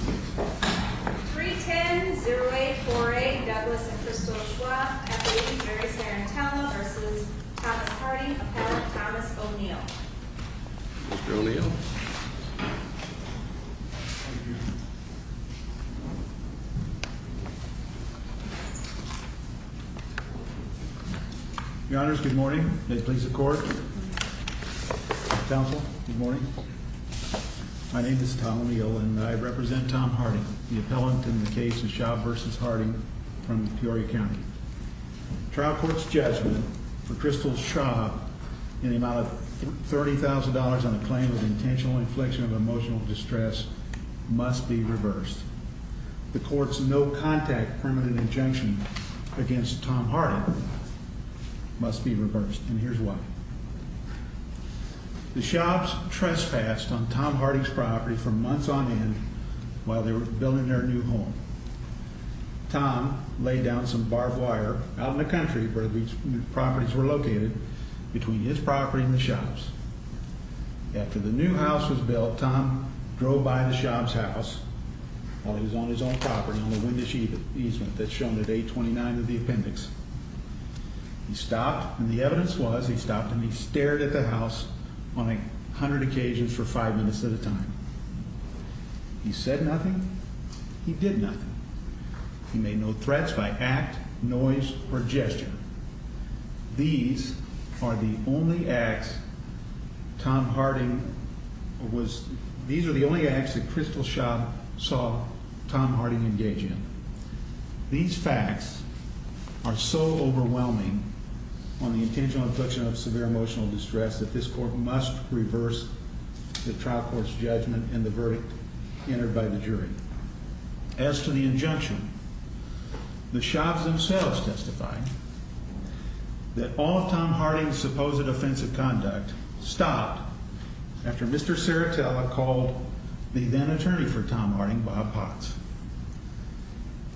310-084-8 Douglas and Crystal Schwaab v. Jerry Sarantello v. Thomas Harding v. Thomas O'Neill Mr. O'Neill Your honors, good morning. May it please the court. Counsel, good morning. My name is Tom O'Neill and I represent Tom Harding, the appellant in the case of Schaub v. Harding from Peoria County. Trial court's judgment for Crystal Schwaab in the amount of $30,000 on a claim of intentional infliction of emotional distress must be reversed. The court's no-contact permanent injunction against Tom Harding must be reversed, and here's why. The Schaubs trespassed on Tom Harding's property for months on end while they were building their new home. Tom laid down some barbed wire out in the country where these properties were located, between his property and the Schaubs'. After the new house was built, Tom drove by the Schaubs' house while he was on his own property on a windage easement that's shown at 829 of the appendix. He stopped, and the evidence was he stopped and he stared at the house on a hundred occasions for five minutes at a time. He said nothing. He did nothing. He made no threats by act, noise, or gesture. These are the only acts that Crystal Schwaab saw Tom Harding engage in. These facts are so overwhelming on the intentional infliction of severe emotional distress that this court must reverse the trial court's judgment and the verdict entered by the jury. As to the injunction, the Schaubs themselves testified that all of Tom Harding's supposed offensive conduct stopped after Mr. Saratella called the then-attorney for Tom Harding, Bob Potts.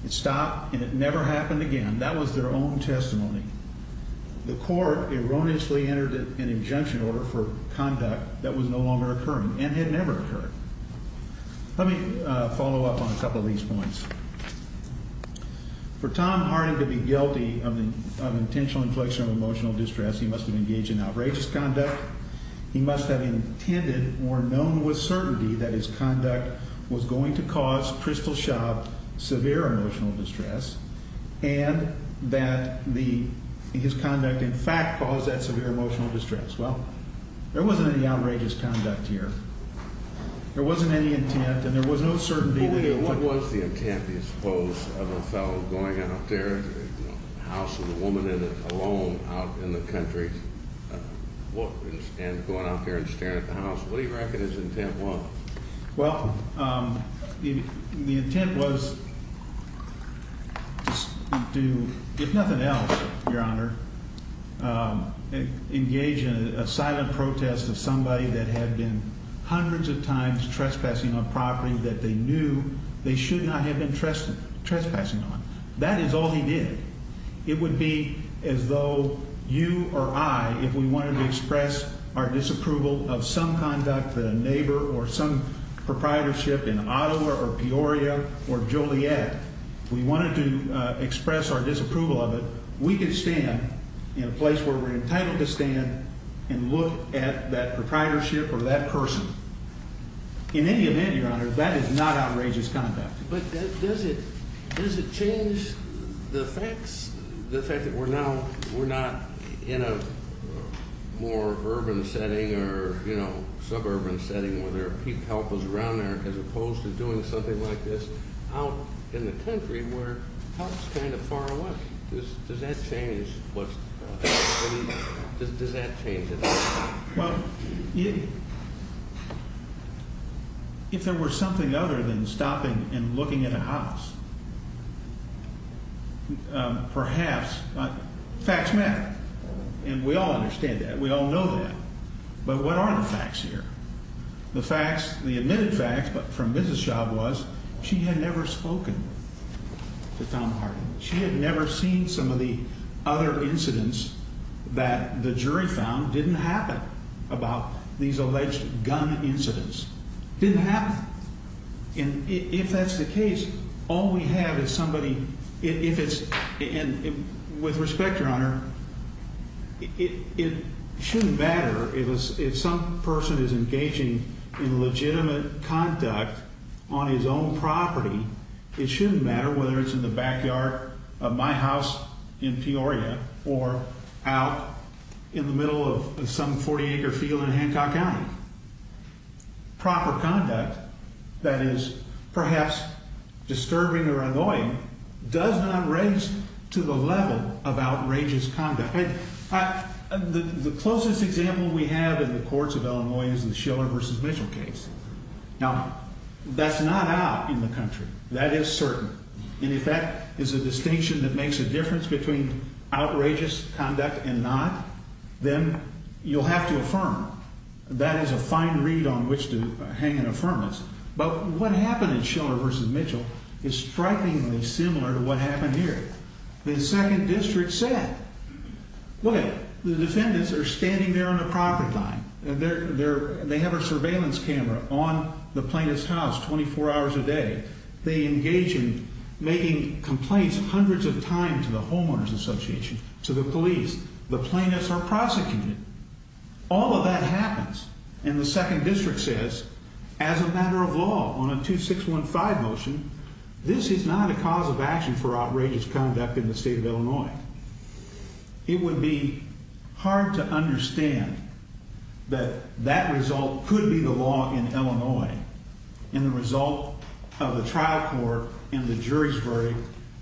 It stopped and it never happened again. That was their own testimony. The court erroneously entered an injunction order for conduct that was no longer occurring and had never occurred. Let me follow up on a couple of these points. For Tom Harding to be guilty of intentional inflection of emotional distress, he must have engaged in outrageous conduct. He must have intended or known with certainty that his conduct was going to cause Crystal Schwaab severe emotional distress and that his conduct in fact caused that severe emotional distress. Well, there wasn't any outrageous conduct here. There wasn't any intent and there was no certainty that it would. What was the intent, do you suppose, of a fellow going out there, a house with a woman in it alone out in the country, and going out there and staring at the house? What do you reckon his intent was? Well, the intent was to, if nothing else, Your Honor, engage in a silent protest of somebody that had been hundreds of times trespassing on property that they knew they should not have been trespassing on. That is all he did. It would be as though you or I, if we wanted to express our disapproval of some conduct that a neighbor or some proprietorship in Ottawa or Peoria or Joliet, if we wanted to express our disapproval of it, we could stand in a place where we're entitled to stand and look at that proprietorship or that person. In any event, Your Honor, that is not outrageous conduct. But does it change the fact that we're not in a more urban setting or suburban setting where there are people, helpers around there, as opposed to doing something like this out in the country where help is kind of far away? Does that change what's happening? Does that change it? Well, if there were something other than stopping and looking at a house, perhaps. Facts matter. And we all understand that. We all know that. But what are the facts here? The facts, the admitted facts from Mrs. Schaub was she had never spoken to Tom Harden. She had never seen some of the other incidents that the jury found didn't happen about these alleged gun incidents. Didn't happen. And if that's the case, all we have is somebody, if it's, and with respect, Your Honor, it shouldn't matter if some person is engaging in legitimate conduct on his own property. It shouldn't matter whether it's in the backyard of my house in Peoria or out in the middle of some 40-acre field in Hancock County. Proper conduct that is perhaps disturbing or annoying does not raise to the level of outrageous conduct. The closest example we have in the courts of Illinois is the Schiller v. Mitchell case. Now, that's not out in the country. That is certain. And if that is a distinction that makes a difference between outrageous conduct and not, then you'll have to affirm. That is a fine read on which to hang an affirmance. But what happened in Schiller v. Mitchell is strikingly similar to what happened here. The second district said, look at it. The defendants are standing there on the property line. They have a surveillance camera on the plaintiff's house 24 hours a day. They engage in making complaints hundreds of times to the homeowners association, to the police. The plaintiffs are prosecuted. All of that happens. And the second district says, as a matter of law, on a 2615 motion, this is not a cause of action for outrageous conduct in the state of Illinois. It would be hard to understand that that result could be the law in Illinois. And the result of the trial court and the jury's verdict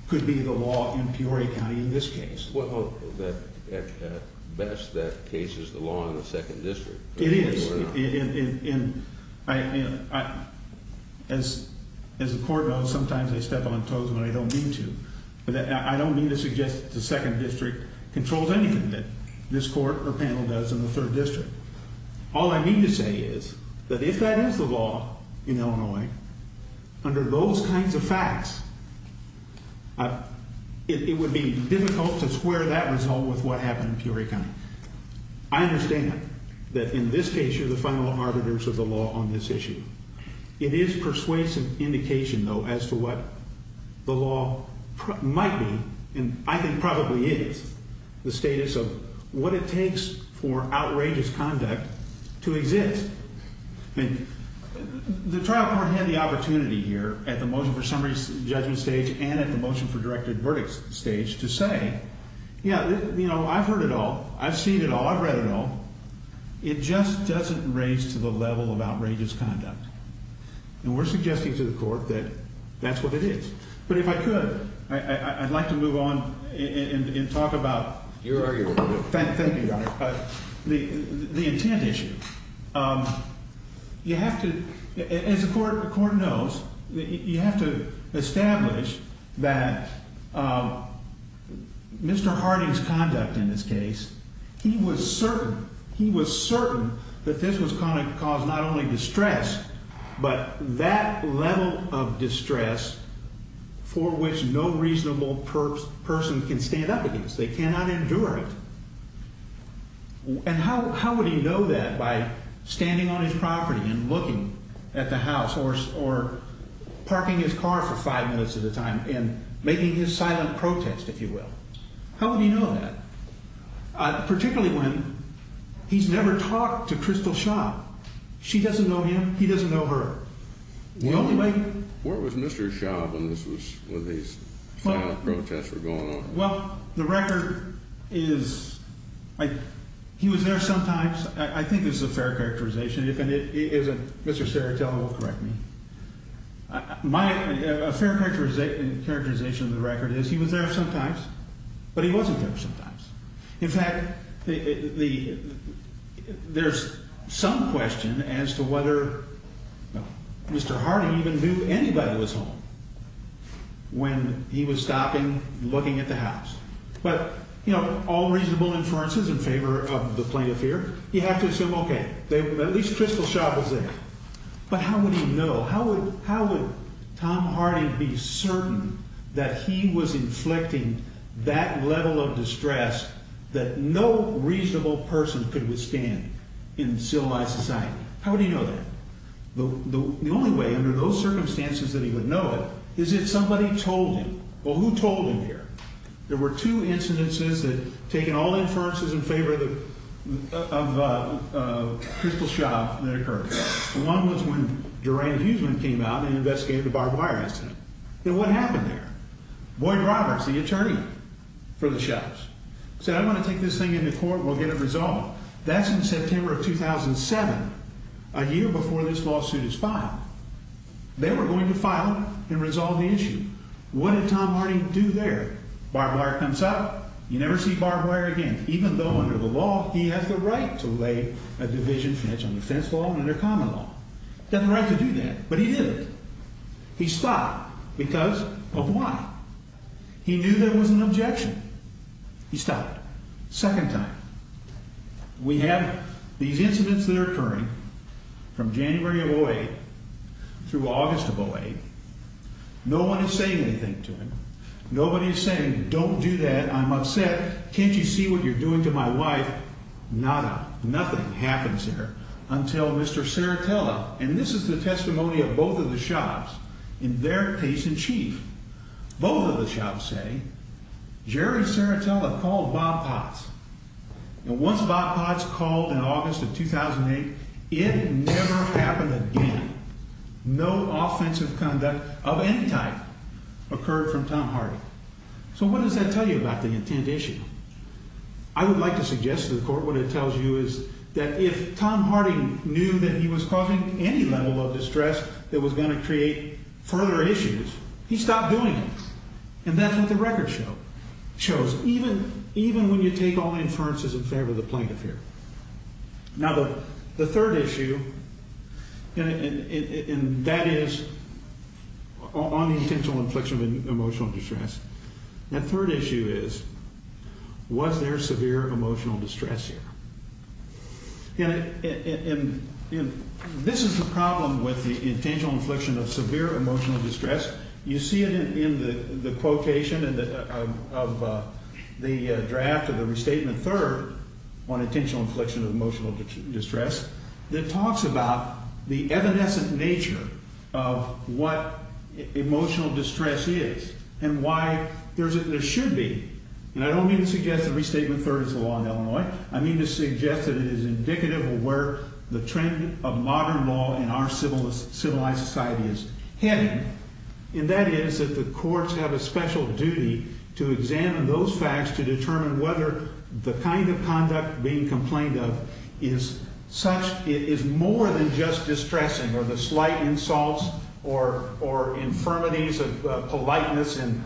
could be the law in Peoria County in this case. At best, that case is the law in the second district. It is. And as the court knows, sometimes I step on toes when I don't mean to. But I don't mean to suggest that the second district controls anything that this court or panel does in the third district. All I mean to say is that if that is the law in Illinois, under those kinds of facts, it would be difficult to square that result with what happened in Peoria County. I understand that in this case, you're the final arbiters of the law on this issue. It is persuasive indication, though, as to what the law might be, and I think probably is, the status of what it takes for outrageous conduct to exist. I mean, the trial court had the opportunity here at the motion for summary judgment stage and at the motion for directed verdict stage to say, yeah, you know, I've heard it all. I've seen it all. I've read it all. It just doesn't raise to the level of outrageous conduct. And we're suggesting to the court that that's what it is. But if I could, I'd like to move on and talk about the intent issue. You have to, as the court knows, you have to establish that Mr. Harding's conduct in this case, he was certain he was certain that this was going to cause not only distress, but that level of distress for which no reasonable person can stand up against. They cannot endure it. And how would he know that by standing on his property and looking at the house or or parking his car for five minutes at a time and making his silent protest, if you will? How would you know that? Particularly when he's never talked to Crystal Shaw. She doesn't know him. He doesn't know her. Where was Mr. Shaw when this was when these protests were going on? Well, the record is like he was there sometimes. I think this is a fair characterization. And if it isn't, Mr. Saratoga will correct me. My fair characterization of the record is he was there sometimes, but he wasn't there sometimes. In fact, the there's some question as to whether Mr. Harding even knew anybody was home when he was stopping, looking at the house. But, you know, all reasonable inferences in favor of the plaintiff here. You have to assume, OK, at least Crystal Shaw was there. But how would you know? How would how would Tom Hardy be certain that he was inflicting that level of distress that no reasonable person could withstand in civilized society? How do you know that? The only way under those circumstances that he would know it is if somebody told him. Well, who told him here? There were two incidences that taken all inferences in favor of the Crystal Shaw that occurred. One was when Duran Huseman came out and investigated the barbed wire incident. And what happened there? Boyd Roberts, the attorney for the shops, said, I'm going to take this thing into court. We'll get it resolved. That's in September of 2007, a year before this lawsuit is filed. They were going to file and resolve the issue. What did Tom Hardy do there? Barbed wire comes up. You never see barbed wire again, even though under the law he has the right to lay a division. That's an offense law and a common law. He has the right to do that. But he didn't. He stopped because of what? He knew there was an objection. He stopped. Second time. We have these incidents that are occurring from January of 08 through August of 08. No one is saying anything to him. Nobody is saying, don't do that. I'm upset. Can't you see what you're doing to my wife? Nada. Nothing happens there until Mr. Serratella, and this is the testimony of both of the shops, in their case in chief. Both of the shops say Jerry Serratella called Bob Potts. And once Bob Potts called in August of 2008, it never happened again. No offensive conduct of any type occurred from Tom Hardy. So what does that tell you about the intent issue? I would like to suggest to the court what it tells you is that if Tom Hardy knew that he was causing any level of distress that was going to create further issues, he stopped doing it. And that's what the record shows. Even when you take all inferences in favor of the plaintiff here. Now, the third issue, and that is on the intentional infliction of emotional distress. The third issue is was there severe emotional distress here? And this is the problem with the intentional infliction of severe emotional distress. You see it in the quotation of the draft of the restatement third on intentional infliction of emotional distress that talks about the evanescent nature of what emotional distress is and why there should be. And I don't mean to suggest that restatement third is the law in Illinois. I mean to suggest that it is indicative of where the trend of modern law in our civil civilized society is heading. And that is that the courts have a special duty to examine those facts to determine whether the kind of conduct being complained of is such is more than just distressing or the slight insults or or infirmities of politeness in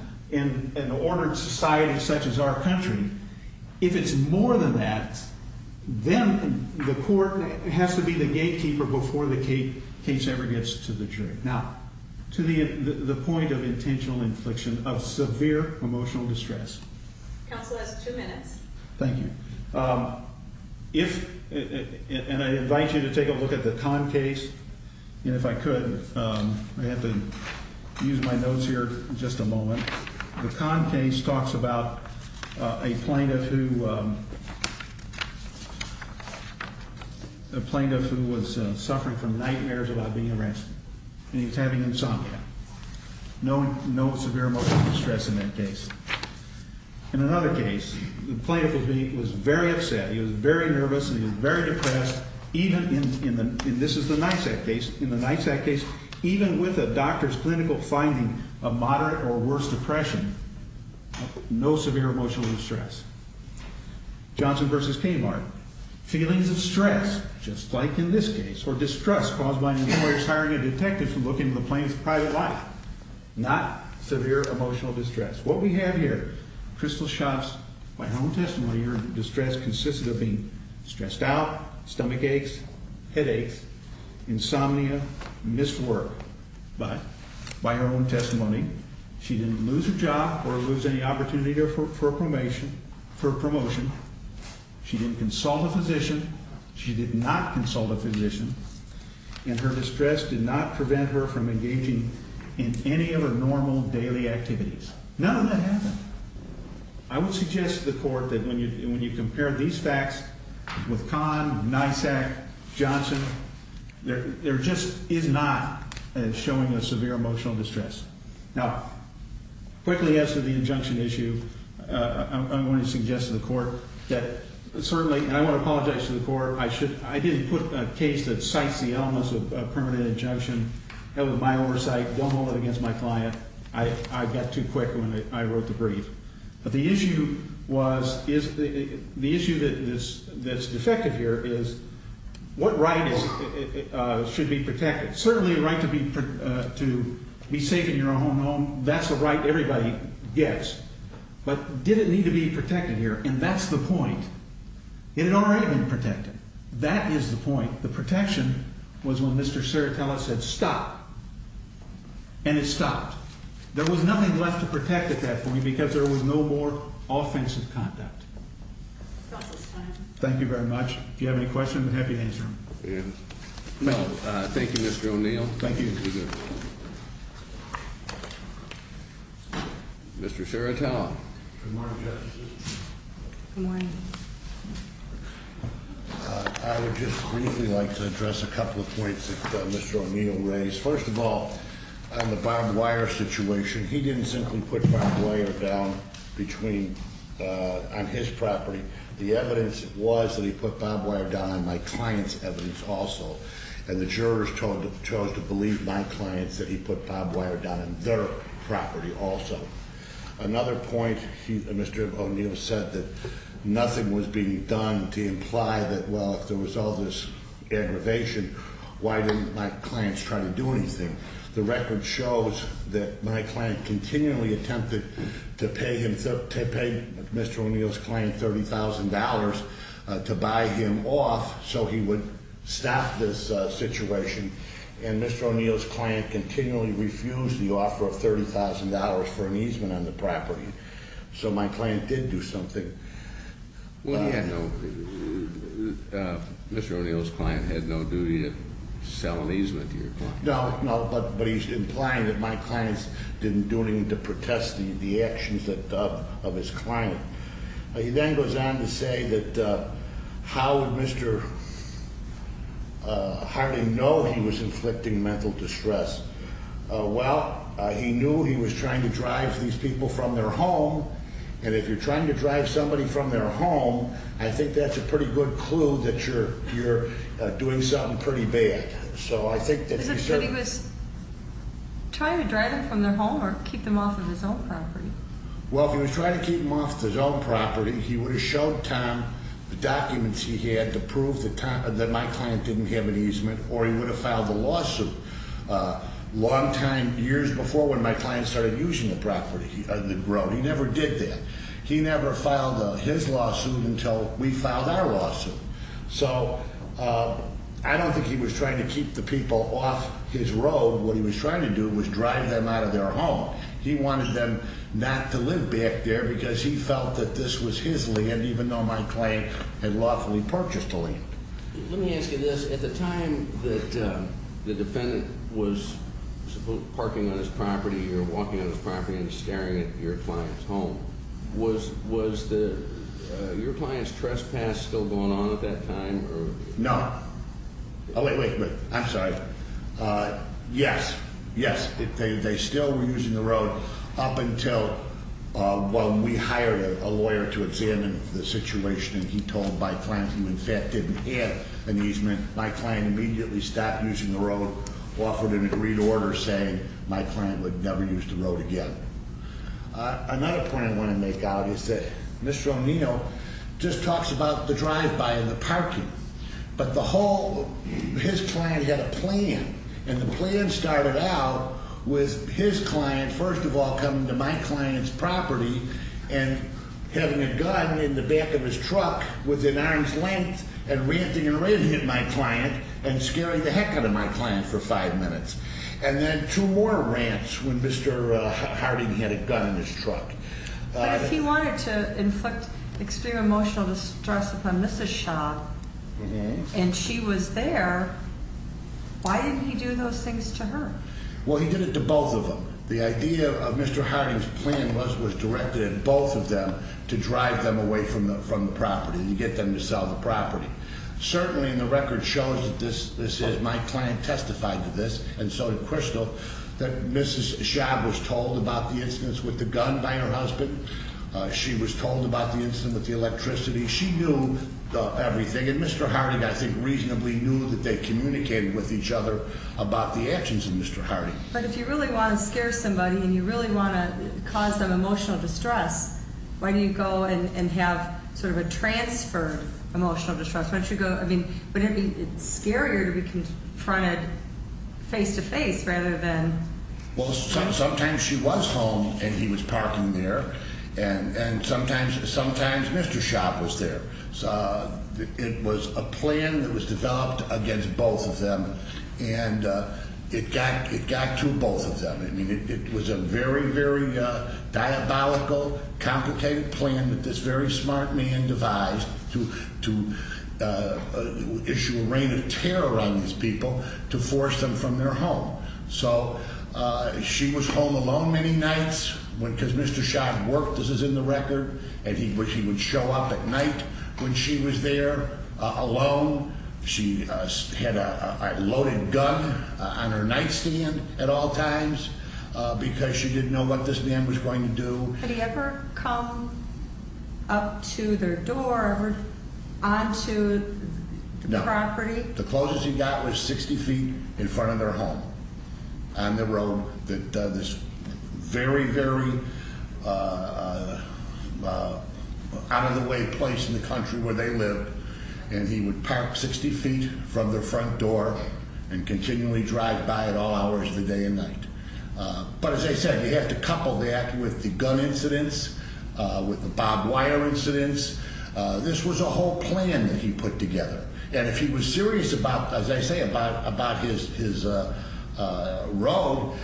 an ordered society such as our country. If it's more than that, then the court has to be the gatekeeper before the case ever gets to the jury. Now, to the point of intentional infliction of severe emotional distress. Counsel has two minutes. Thank you. If and I invite you to take a look at the con case. And if I could, I have to use my notes here. Just a moment. The con case talks about a plaintiff who the plaintiff who was suffering from nightmares about being arrested and he's having insomnia. No, no severe emotional distress in that case. In another case, the plaintiff will be was very upset. He was very nervous. He was very depressed. Even in this is the night that case in the night that case, even with a doctor's clinical finding of moderate or worse depression, no severe emotional distress. Johnson versus Kmart feelings of stress, just like in this case, or distrust caused by an employer's hiring a detective to look into the plane's private life, not severe emotional distress. What we have here. Crystal shops. My home testimony. Your distress consisted of being stressed out. Stomach aches. Headaches. Insomnia. Missed work. But by her own testimony, she didn't lose her job or lose any opportunity for a promotion for promotion. She didn't consult a physician. She did not consult a physician. And her distress did not prevent her from engaging in any other normal daily activities. None of that happened. I would suggest to the court that when you when you compare these facts with con NYSEC Johnson, there just is not showing a severe emotional distress. Now, quickly, as to the injunction issue, I'm going to suggest to the court that certainly I want to apologize to the court. I should. I didn't put a case that cites the elements of a permanent injunction. That was my oversight. Don't hold it against my client. I got too quick when I wrote the brief. But the issue was is the issue that is that's defective here is what right should be protected? Certainly a right to be to be safe in your own home. That's the right everybody gets. But did it need to be protected here? And that's the point. It had already been protected. That is the point. The protection was when Mr. Serrata said stop. And it stopped. There was nothing left to protect at that point because there was no more offensive conduct. Thank you very much. If you have any questions, I'm happy to answer them. Thank you, Mr. O'Neill. Thank you. Mr. Serrata. Good morning, Justice. Good morning. I would just briefly like to address a couple of points that Mr. O'Neill raised. First of all, on the barbed wire situation, he didn't simply put barbed wire down between on his property. The evidence was that he put barbed wire down on my client's evidence also. And the jurors chose to believe my clients that he put barbed wire down on their property also. Another point, Mr. O'Neill said that nothing was being done to imply that, well, if there was all this aggravation, why didn't my clients try to do anything? The record shows that my client continually attempted to pay Mr. O'Neill's client $30,000 to buy him off so he would stop this situation. And Mr. O'Neill's client continually refused the offer of $30,000 for an easement on the property. So my client did do something. Well, he had no – Mr. O'Neill's client had no duty to sell an easement to your client. No, no, but he's implying that my clients didn't do anything to protest the actions of his client. He then goes on to say that how would Mr. Harding know he was inflicting mental distress? Well, he knew he was trying to drive these people from their home. And if you're trying to drive somebody from their home, I think that's a pretty good clue that you're doing something pretty bad. Is it that he was trying to drive them from their home or keep them off of his own property? Well, if he was trying to keep them off of his own property, he would have showed Tom the documents he had to prove that my client didn't have an easement or he would have filed a lawsuit. A long time – years before when my client started using the property, the road, he never did that. He never filed his lawsuit until we filed our lawsuit. So I don't think he was trying to keep the people off his road. What he was trying to do was drive them out of their home. He wanted them not to live back there because he felt that this was his land, even though my client had lawfully purchased the land. Let me ask you this. At the time that the defendant was parking on his property or walking on his property and staring at your client's home, was your client's trespass still going on at that time? No. Wait, wait. I'm sorry. Yes. Yes. They still were using the road up until, well, we hired a lawyer to examine the situation. He told my client he, in fact, didn't have an easement. My client immediately stopped using the road, offered him a green order saying my client would never use the road again. Another point I want to make out is that Mr. O'Neill just talks about the drive-by and the parking. But the whole – his client had a plan. And the plan started out with his client first of all coming to my client's property and having a gun in the back of his truck within arm's length and ranting and ranting at my client and scaring the heck out of my client for five minutes. And then two more rants when Mr. Harding had a gun in his truck. But if he wanted to inflict extreme emotional distress upon Mrs. Schaub and she was there, why didn't he do those things to her? Well, he did it to both of them. The idea of Mr. Harding's plan was directed at both of them to drive them away from the property and get them to sell the property. Certainly, and the record shows that this is – my client testified to this, and so did Crystal, that Mrs. Schaub was told about the incidents with the gun by her husband. She was told about the incident with the electricity. She knew everything. And Mr. Harding, I think, reasonably knew that they communicated with each other about the actions of Mr. Harding. But if you really want to scare somebody and you really want to cause them emotional distress, why don't you go and have sort of a transfer of emotional distress? Why don't you go – I mean, wouldn't it be scarier to be confronted face-to-face rather than – Well, sometimes she was home and he was parking there, and sometimes Mr. Schaub was there. It was a plan that was developed against both of them, and it got to both of them. I mean, it was a very, very diabolical, complicated plan that this very smart man devised to issue a rain of terror on these people to force them from their home. So she was home alone many nights because Mr. Schaub worked, as is in the record, and he would show up at night when she was there alone. She had a loaded gun on her nightstand at all times because she didn't know what this man was going to do. Had he ever come up to their door or onto the property? The closest he got was 60 feet in front of their home on the road that this very, very out-of-the-way place in the country where they lived, and he would park 60 feet from their front door and continually drive by at all hours of the day and night. But as I said, you have to couple that with the gun incidents, with the barbed wire incidents. This was a whole plan that he put together, and if he was serious about, as I say, about his road,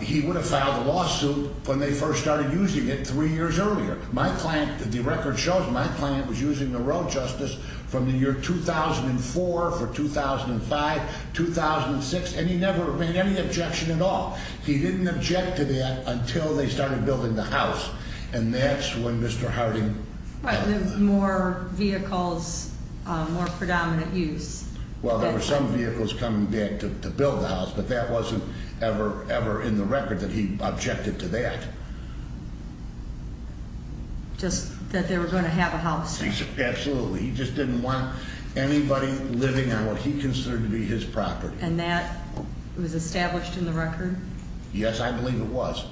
he would have filed a lawsuit when they first started using it three years earlier. My client, the record shows my client was using the road justice from the year 2004 for 2005, 2006, and he never made any objection at all. He didn't object to that until they started building the house, and that's when Mr. Harding... More vehicles, more predominant use. Well, there were some vehicles coming back to build the house, but that wasn't ever, ever in the record that he objected to that. Just that they were going to have a house. Absolutely. He just didn't want anybody living on what he considered to be his property. And that was established in the record? Yes, I believe it was.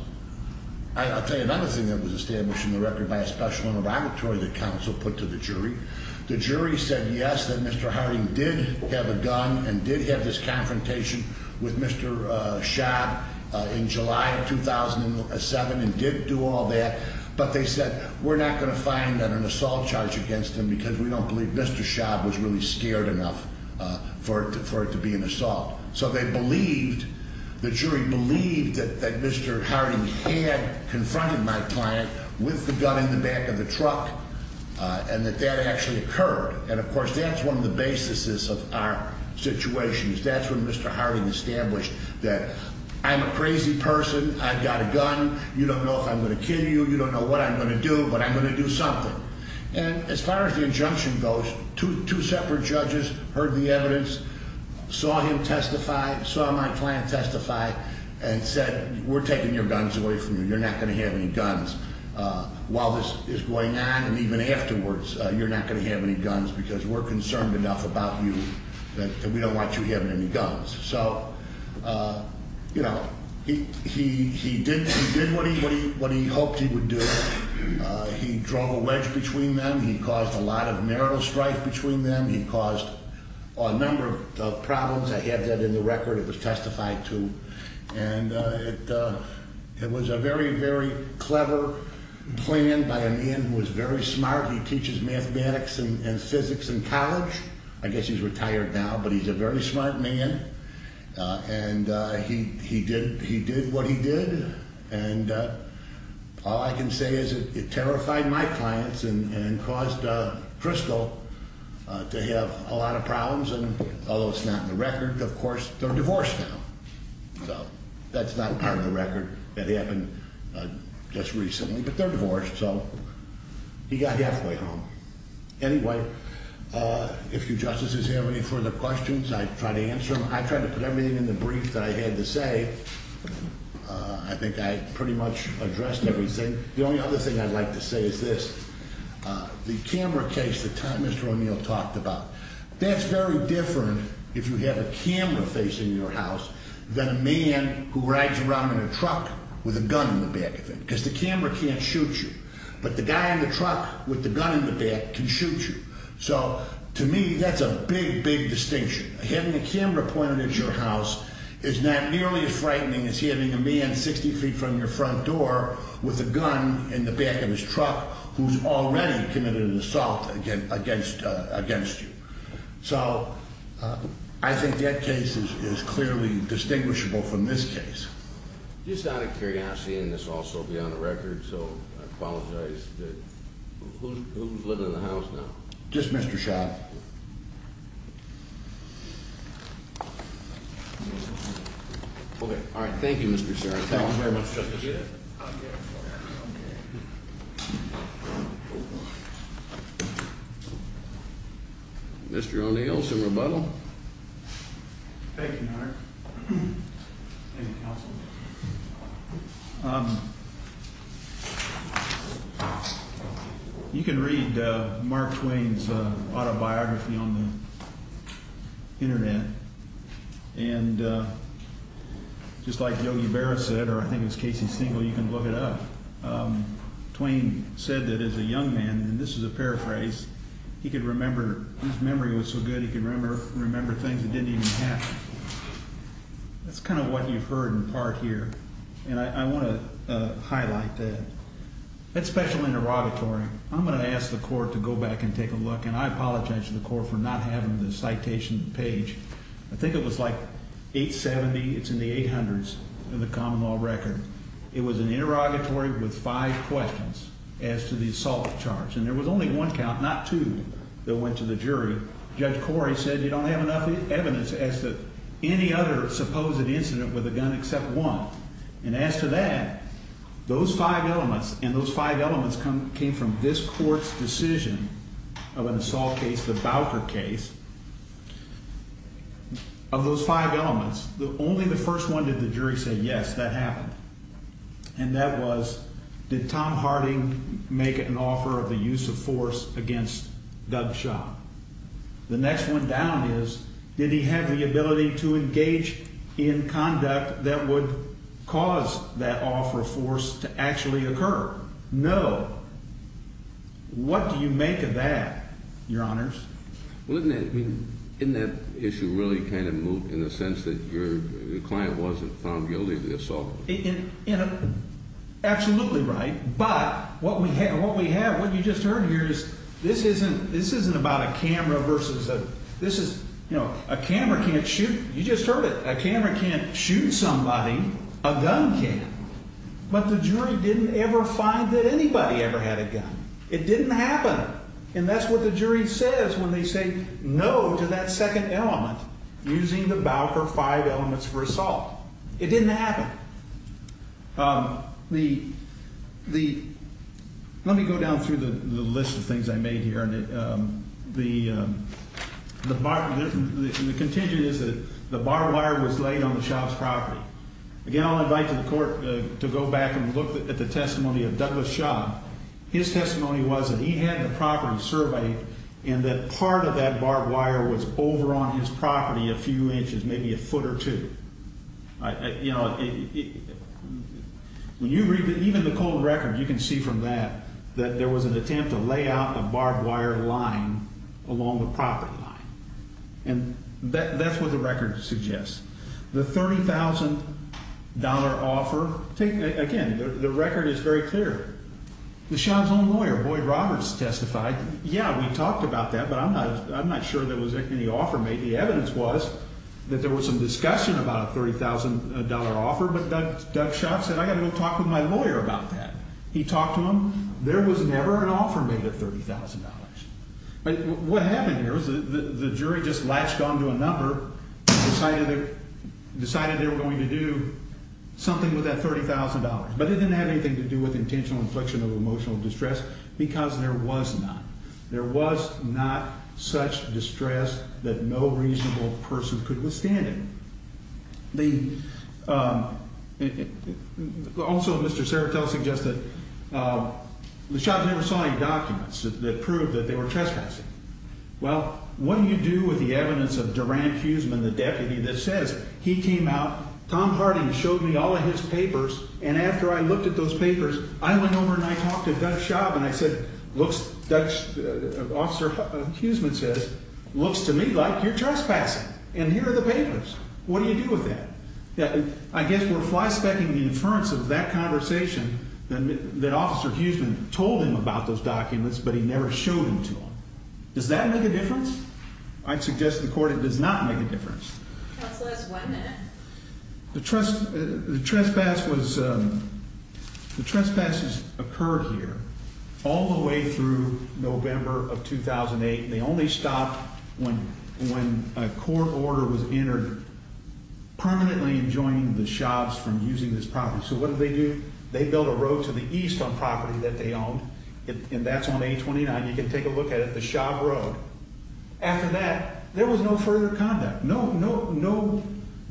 I'll tell you another thing that was established in the record by a special interrogatory that counsel put to the jury. The jury said yes, that Mr. Harding did have a gun and did have this confrontation with Mr. Schaub in July of 2007 and did do all that. But they said we're not going to find an assault charge against him because we don't believe Mr. Schaub was really scared enough for it to be an assault. So they believed, the jury believed that Mr. Harding had confronted my client with the gun in the back of the truck and that that actually occurred. And, of course, that's one of the basis of our situation is that's when Mr. Harding established that I'm a crazy person. I've got a gun. You don't know if I'm going to kill you. You don't know what I'm going to do, but I'm going to do something. And as far as the injunction goes, two separate judges heard the evidence, saw him testify, saw my client testify and said we're taking your guns away from you. You're not going to have any guns while this is going on. And even afterwards, you're not going to have any guns because we're concerned enough about you that we don't want you having any guns. So, you know, he did what he hoped he would do. He drove a wedge between them. He caused a lot of marital strife between them. He caused a number of problems. I have that in the record. It was testified to. And it was a very, very clever plan by a man who was very smart. He teaches mathematics and physics in college. I guess he's retired now, but he's a very smart man. And he did what he did. And all I can say is it terrified my clients and caused Crystal to have a lot of problems. And although it's not in the record, of course, they're divorced now. So that's not part of the record. That happened just recently. But they're divorced, so he got halfway home. Anyway, if you justices have any further questions, I try to answer them. I try to put everything in the brief that I had to say. I think I pretty much addressed everything. The only other thing I'd like to say is this. The camera case that Mr. O'Neill talked about, that's very different if you have a camera facing your house than a man who rides around in a truck with a gun in the back of him because the camera can't shoot you. But the guy in the truck with the gun in the back can shoot you. So to me, that's a big, big distinction. Having a camera pointed at your house is not nearly as frightening as having a man 60 feet from your front door with a gun in the back of his truck who's already committed an assault against you. So I think that case is clearly distinguishable from this case. Just out of curiosity, and this will also be on the record, so I apologize. Who's living in the house now? Just Mr. Schott. Okay. All right. Thank you, Mr. Schott. Thank you very much, Justice. Mr. O'Neill, some rebuttal? Thank you, Your Honor. Thank you, Counsel. You can read Mark Twain's autobiography on the Internet. And just like Yogi Berra said, or I think it was Casey Stengel, you can look it up, Twain said that as a young man, and this is a paraphrase, he could remember, his memory was so good he could remember things that didn't even happen. That's kind of what you've heard in part here, and I want to highlight that. That special interrogatory, I'm going to ask the court to go back and take a look, and I apologize to the court for not having the citation page. I think it was like 870. It's in the 800s in the common law record. It was an interrogatory with five questions as to the assault charge, and there was only one count, not two, that went to the jury. Judge Corey said you don't have enough evidence as to any other supposed incident with a gun except one. And as to that, those five elements, and those five elements came from this court's decision of an assault case, the Bowker case. Of those five elements, only the first one did the jury say yes, that happened. And that was, did Tom Harding make an offer of the use of force against Doug Shaw? The next one down is, did he have the ability to engage in conduct that would cause that offer of force to actually occur? No. What do you make of that, Your Honors? Well, isn't that issue really kind of moved in the sense that your client wasn't found guilty of the assault? Absolutely right. But what we have, what you just heard here is this isn't about a camera versus a, this is, you know, a camera can't shoot, you just heard it. A camera can't shoot somebody. A gun can. But the jury didn't ever find that anybody ever had a gun. It didn't happen. And that's what the jury says when they say no to that second element, using the Bowker five elements for assault. It didn't happen. The, the, let me go down through the list of things I made here. The, the bar, the contingent is that the bar wire was laid on the Shaw's property. Again, I'll invite the court to go back and look at the testimony of Douglas Shaw. His testimony was that he had the property surveyed and that part of that barbed wire was over on his property a few inches, maybe a foot or two. You know, even the cold record, you can see from that, that there was an attempt to lay out a barbed wire line along the property line. And that's what the record suggests. The $30,000 offer, again, the record is very clear. The Shaw's own lawyer, Boyd Roberts, testified. Yeah, we talked about that, but I'm not, I'm not sure there was any offer made. The evidence was that there was some discussion about a $30,000 offer, but Doug, Doug Shaw said, I got to go talk with my lawyer about that. He talked to him. There was never an offer made at $30,000. But what happened here is the jury just latched on to a number, decided they were going to do something with that $30,000. But it didn't have anything to do with intentional infliction of emotional distress because there was not. There was not such distress that no reasonable person could withstand it. The. Also, Mr. Serato suggests that the shots never saw any documents that proved that they were trespassing. Well, what do you do with the evidence of Durant? He's been the deputy that says he came out. Tom Harding showed me all of his papers. And after I looked at those papers, I went over and I talked to that shop and I said, looks, that officer, Huseman says, looks to me like you're trespassing. And here are the papers. What do you do with that? I guess we're fly specking the inference of that conversation that officer Huseman told him about those documents, but he never showed them to him. Does that make a difference? I'd suggest the court. It does not make a difference. The trust, the trespass was the trespasses occurred here all the way through November of 2008. They only stopped when when a court order was entered, permanently enjoying the shots from using this property. So what did they do? They built a road to the east on property that they owned. And that's on a twenty nine. You can take a look at it. After that, there was no further conduct. No, no, no.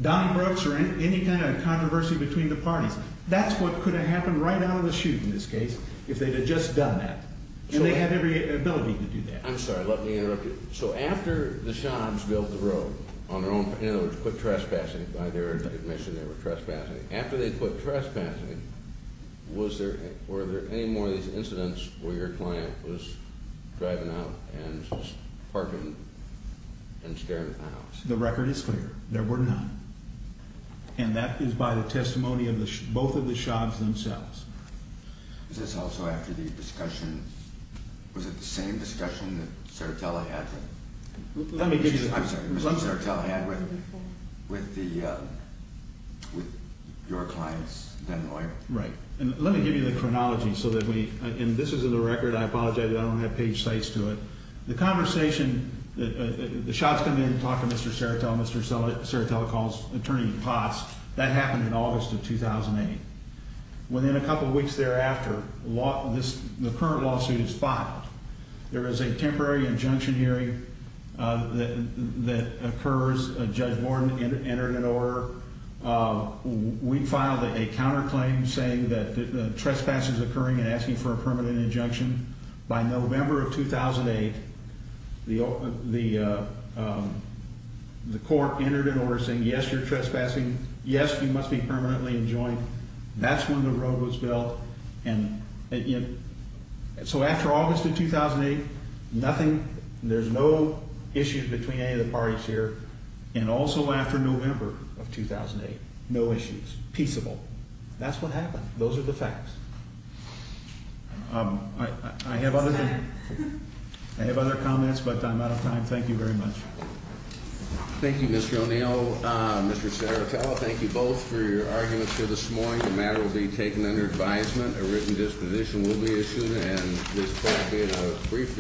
Don Brooks or any kind of controversy between the parties. That's what could have happened right out of the chute. In this case, if they had just done that and they had every ability to do that. I'm sorry. Let me interrupt you. So after the shops built the road on their own, put trespassing by their admission, they were trespassing after they put trespassing. Was there were there any more of these incidents where your client was driving out and parking and staring at the house? The record is clear. There were not. And that is by the testimony of both of the shops themselves. Is this also after the discussion? Was it the same discussion that Sertella had? Let me give you. I'm sorry. Mr. Sertell had with with the with your clients. Right. And let me give you the chronology so that we can. This is a record. I apologize. I don't have page sites to it. The conversation, the shots come in and talk to Mr. Sertell. Mr. Sertell calls Attorney Potts. That happened in August of 2008. Within a couple of weeks thereafter, the current lawsuit is filed. There is a temporary injunction hearing that occurs. Judge Warren entered an order. We filed a counterclaim saying that trespass is occurring and asking for a permanent injunction. By November of 2008, the court entered an order saying, yes, you're trespassing. That's when the road was built. And so after August of 2008, nothing. There's no issues between any of the parties here. And also after November of 2008, no issues. Peaceable. That's what happened. Those are the facts. I have other than I have other comments, but I'm out of time. Thank you very much. Thank you, Mr. O'Neill. Mr. Sertell. Thank you both for your arguments here this morning. The matter will be taken under advisement. A written disposition will be issued. And this court in a brief...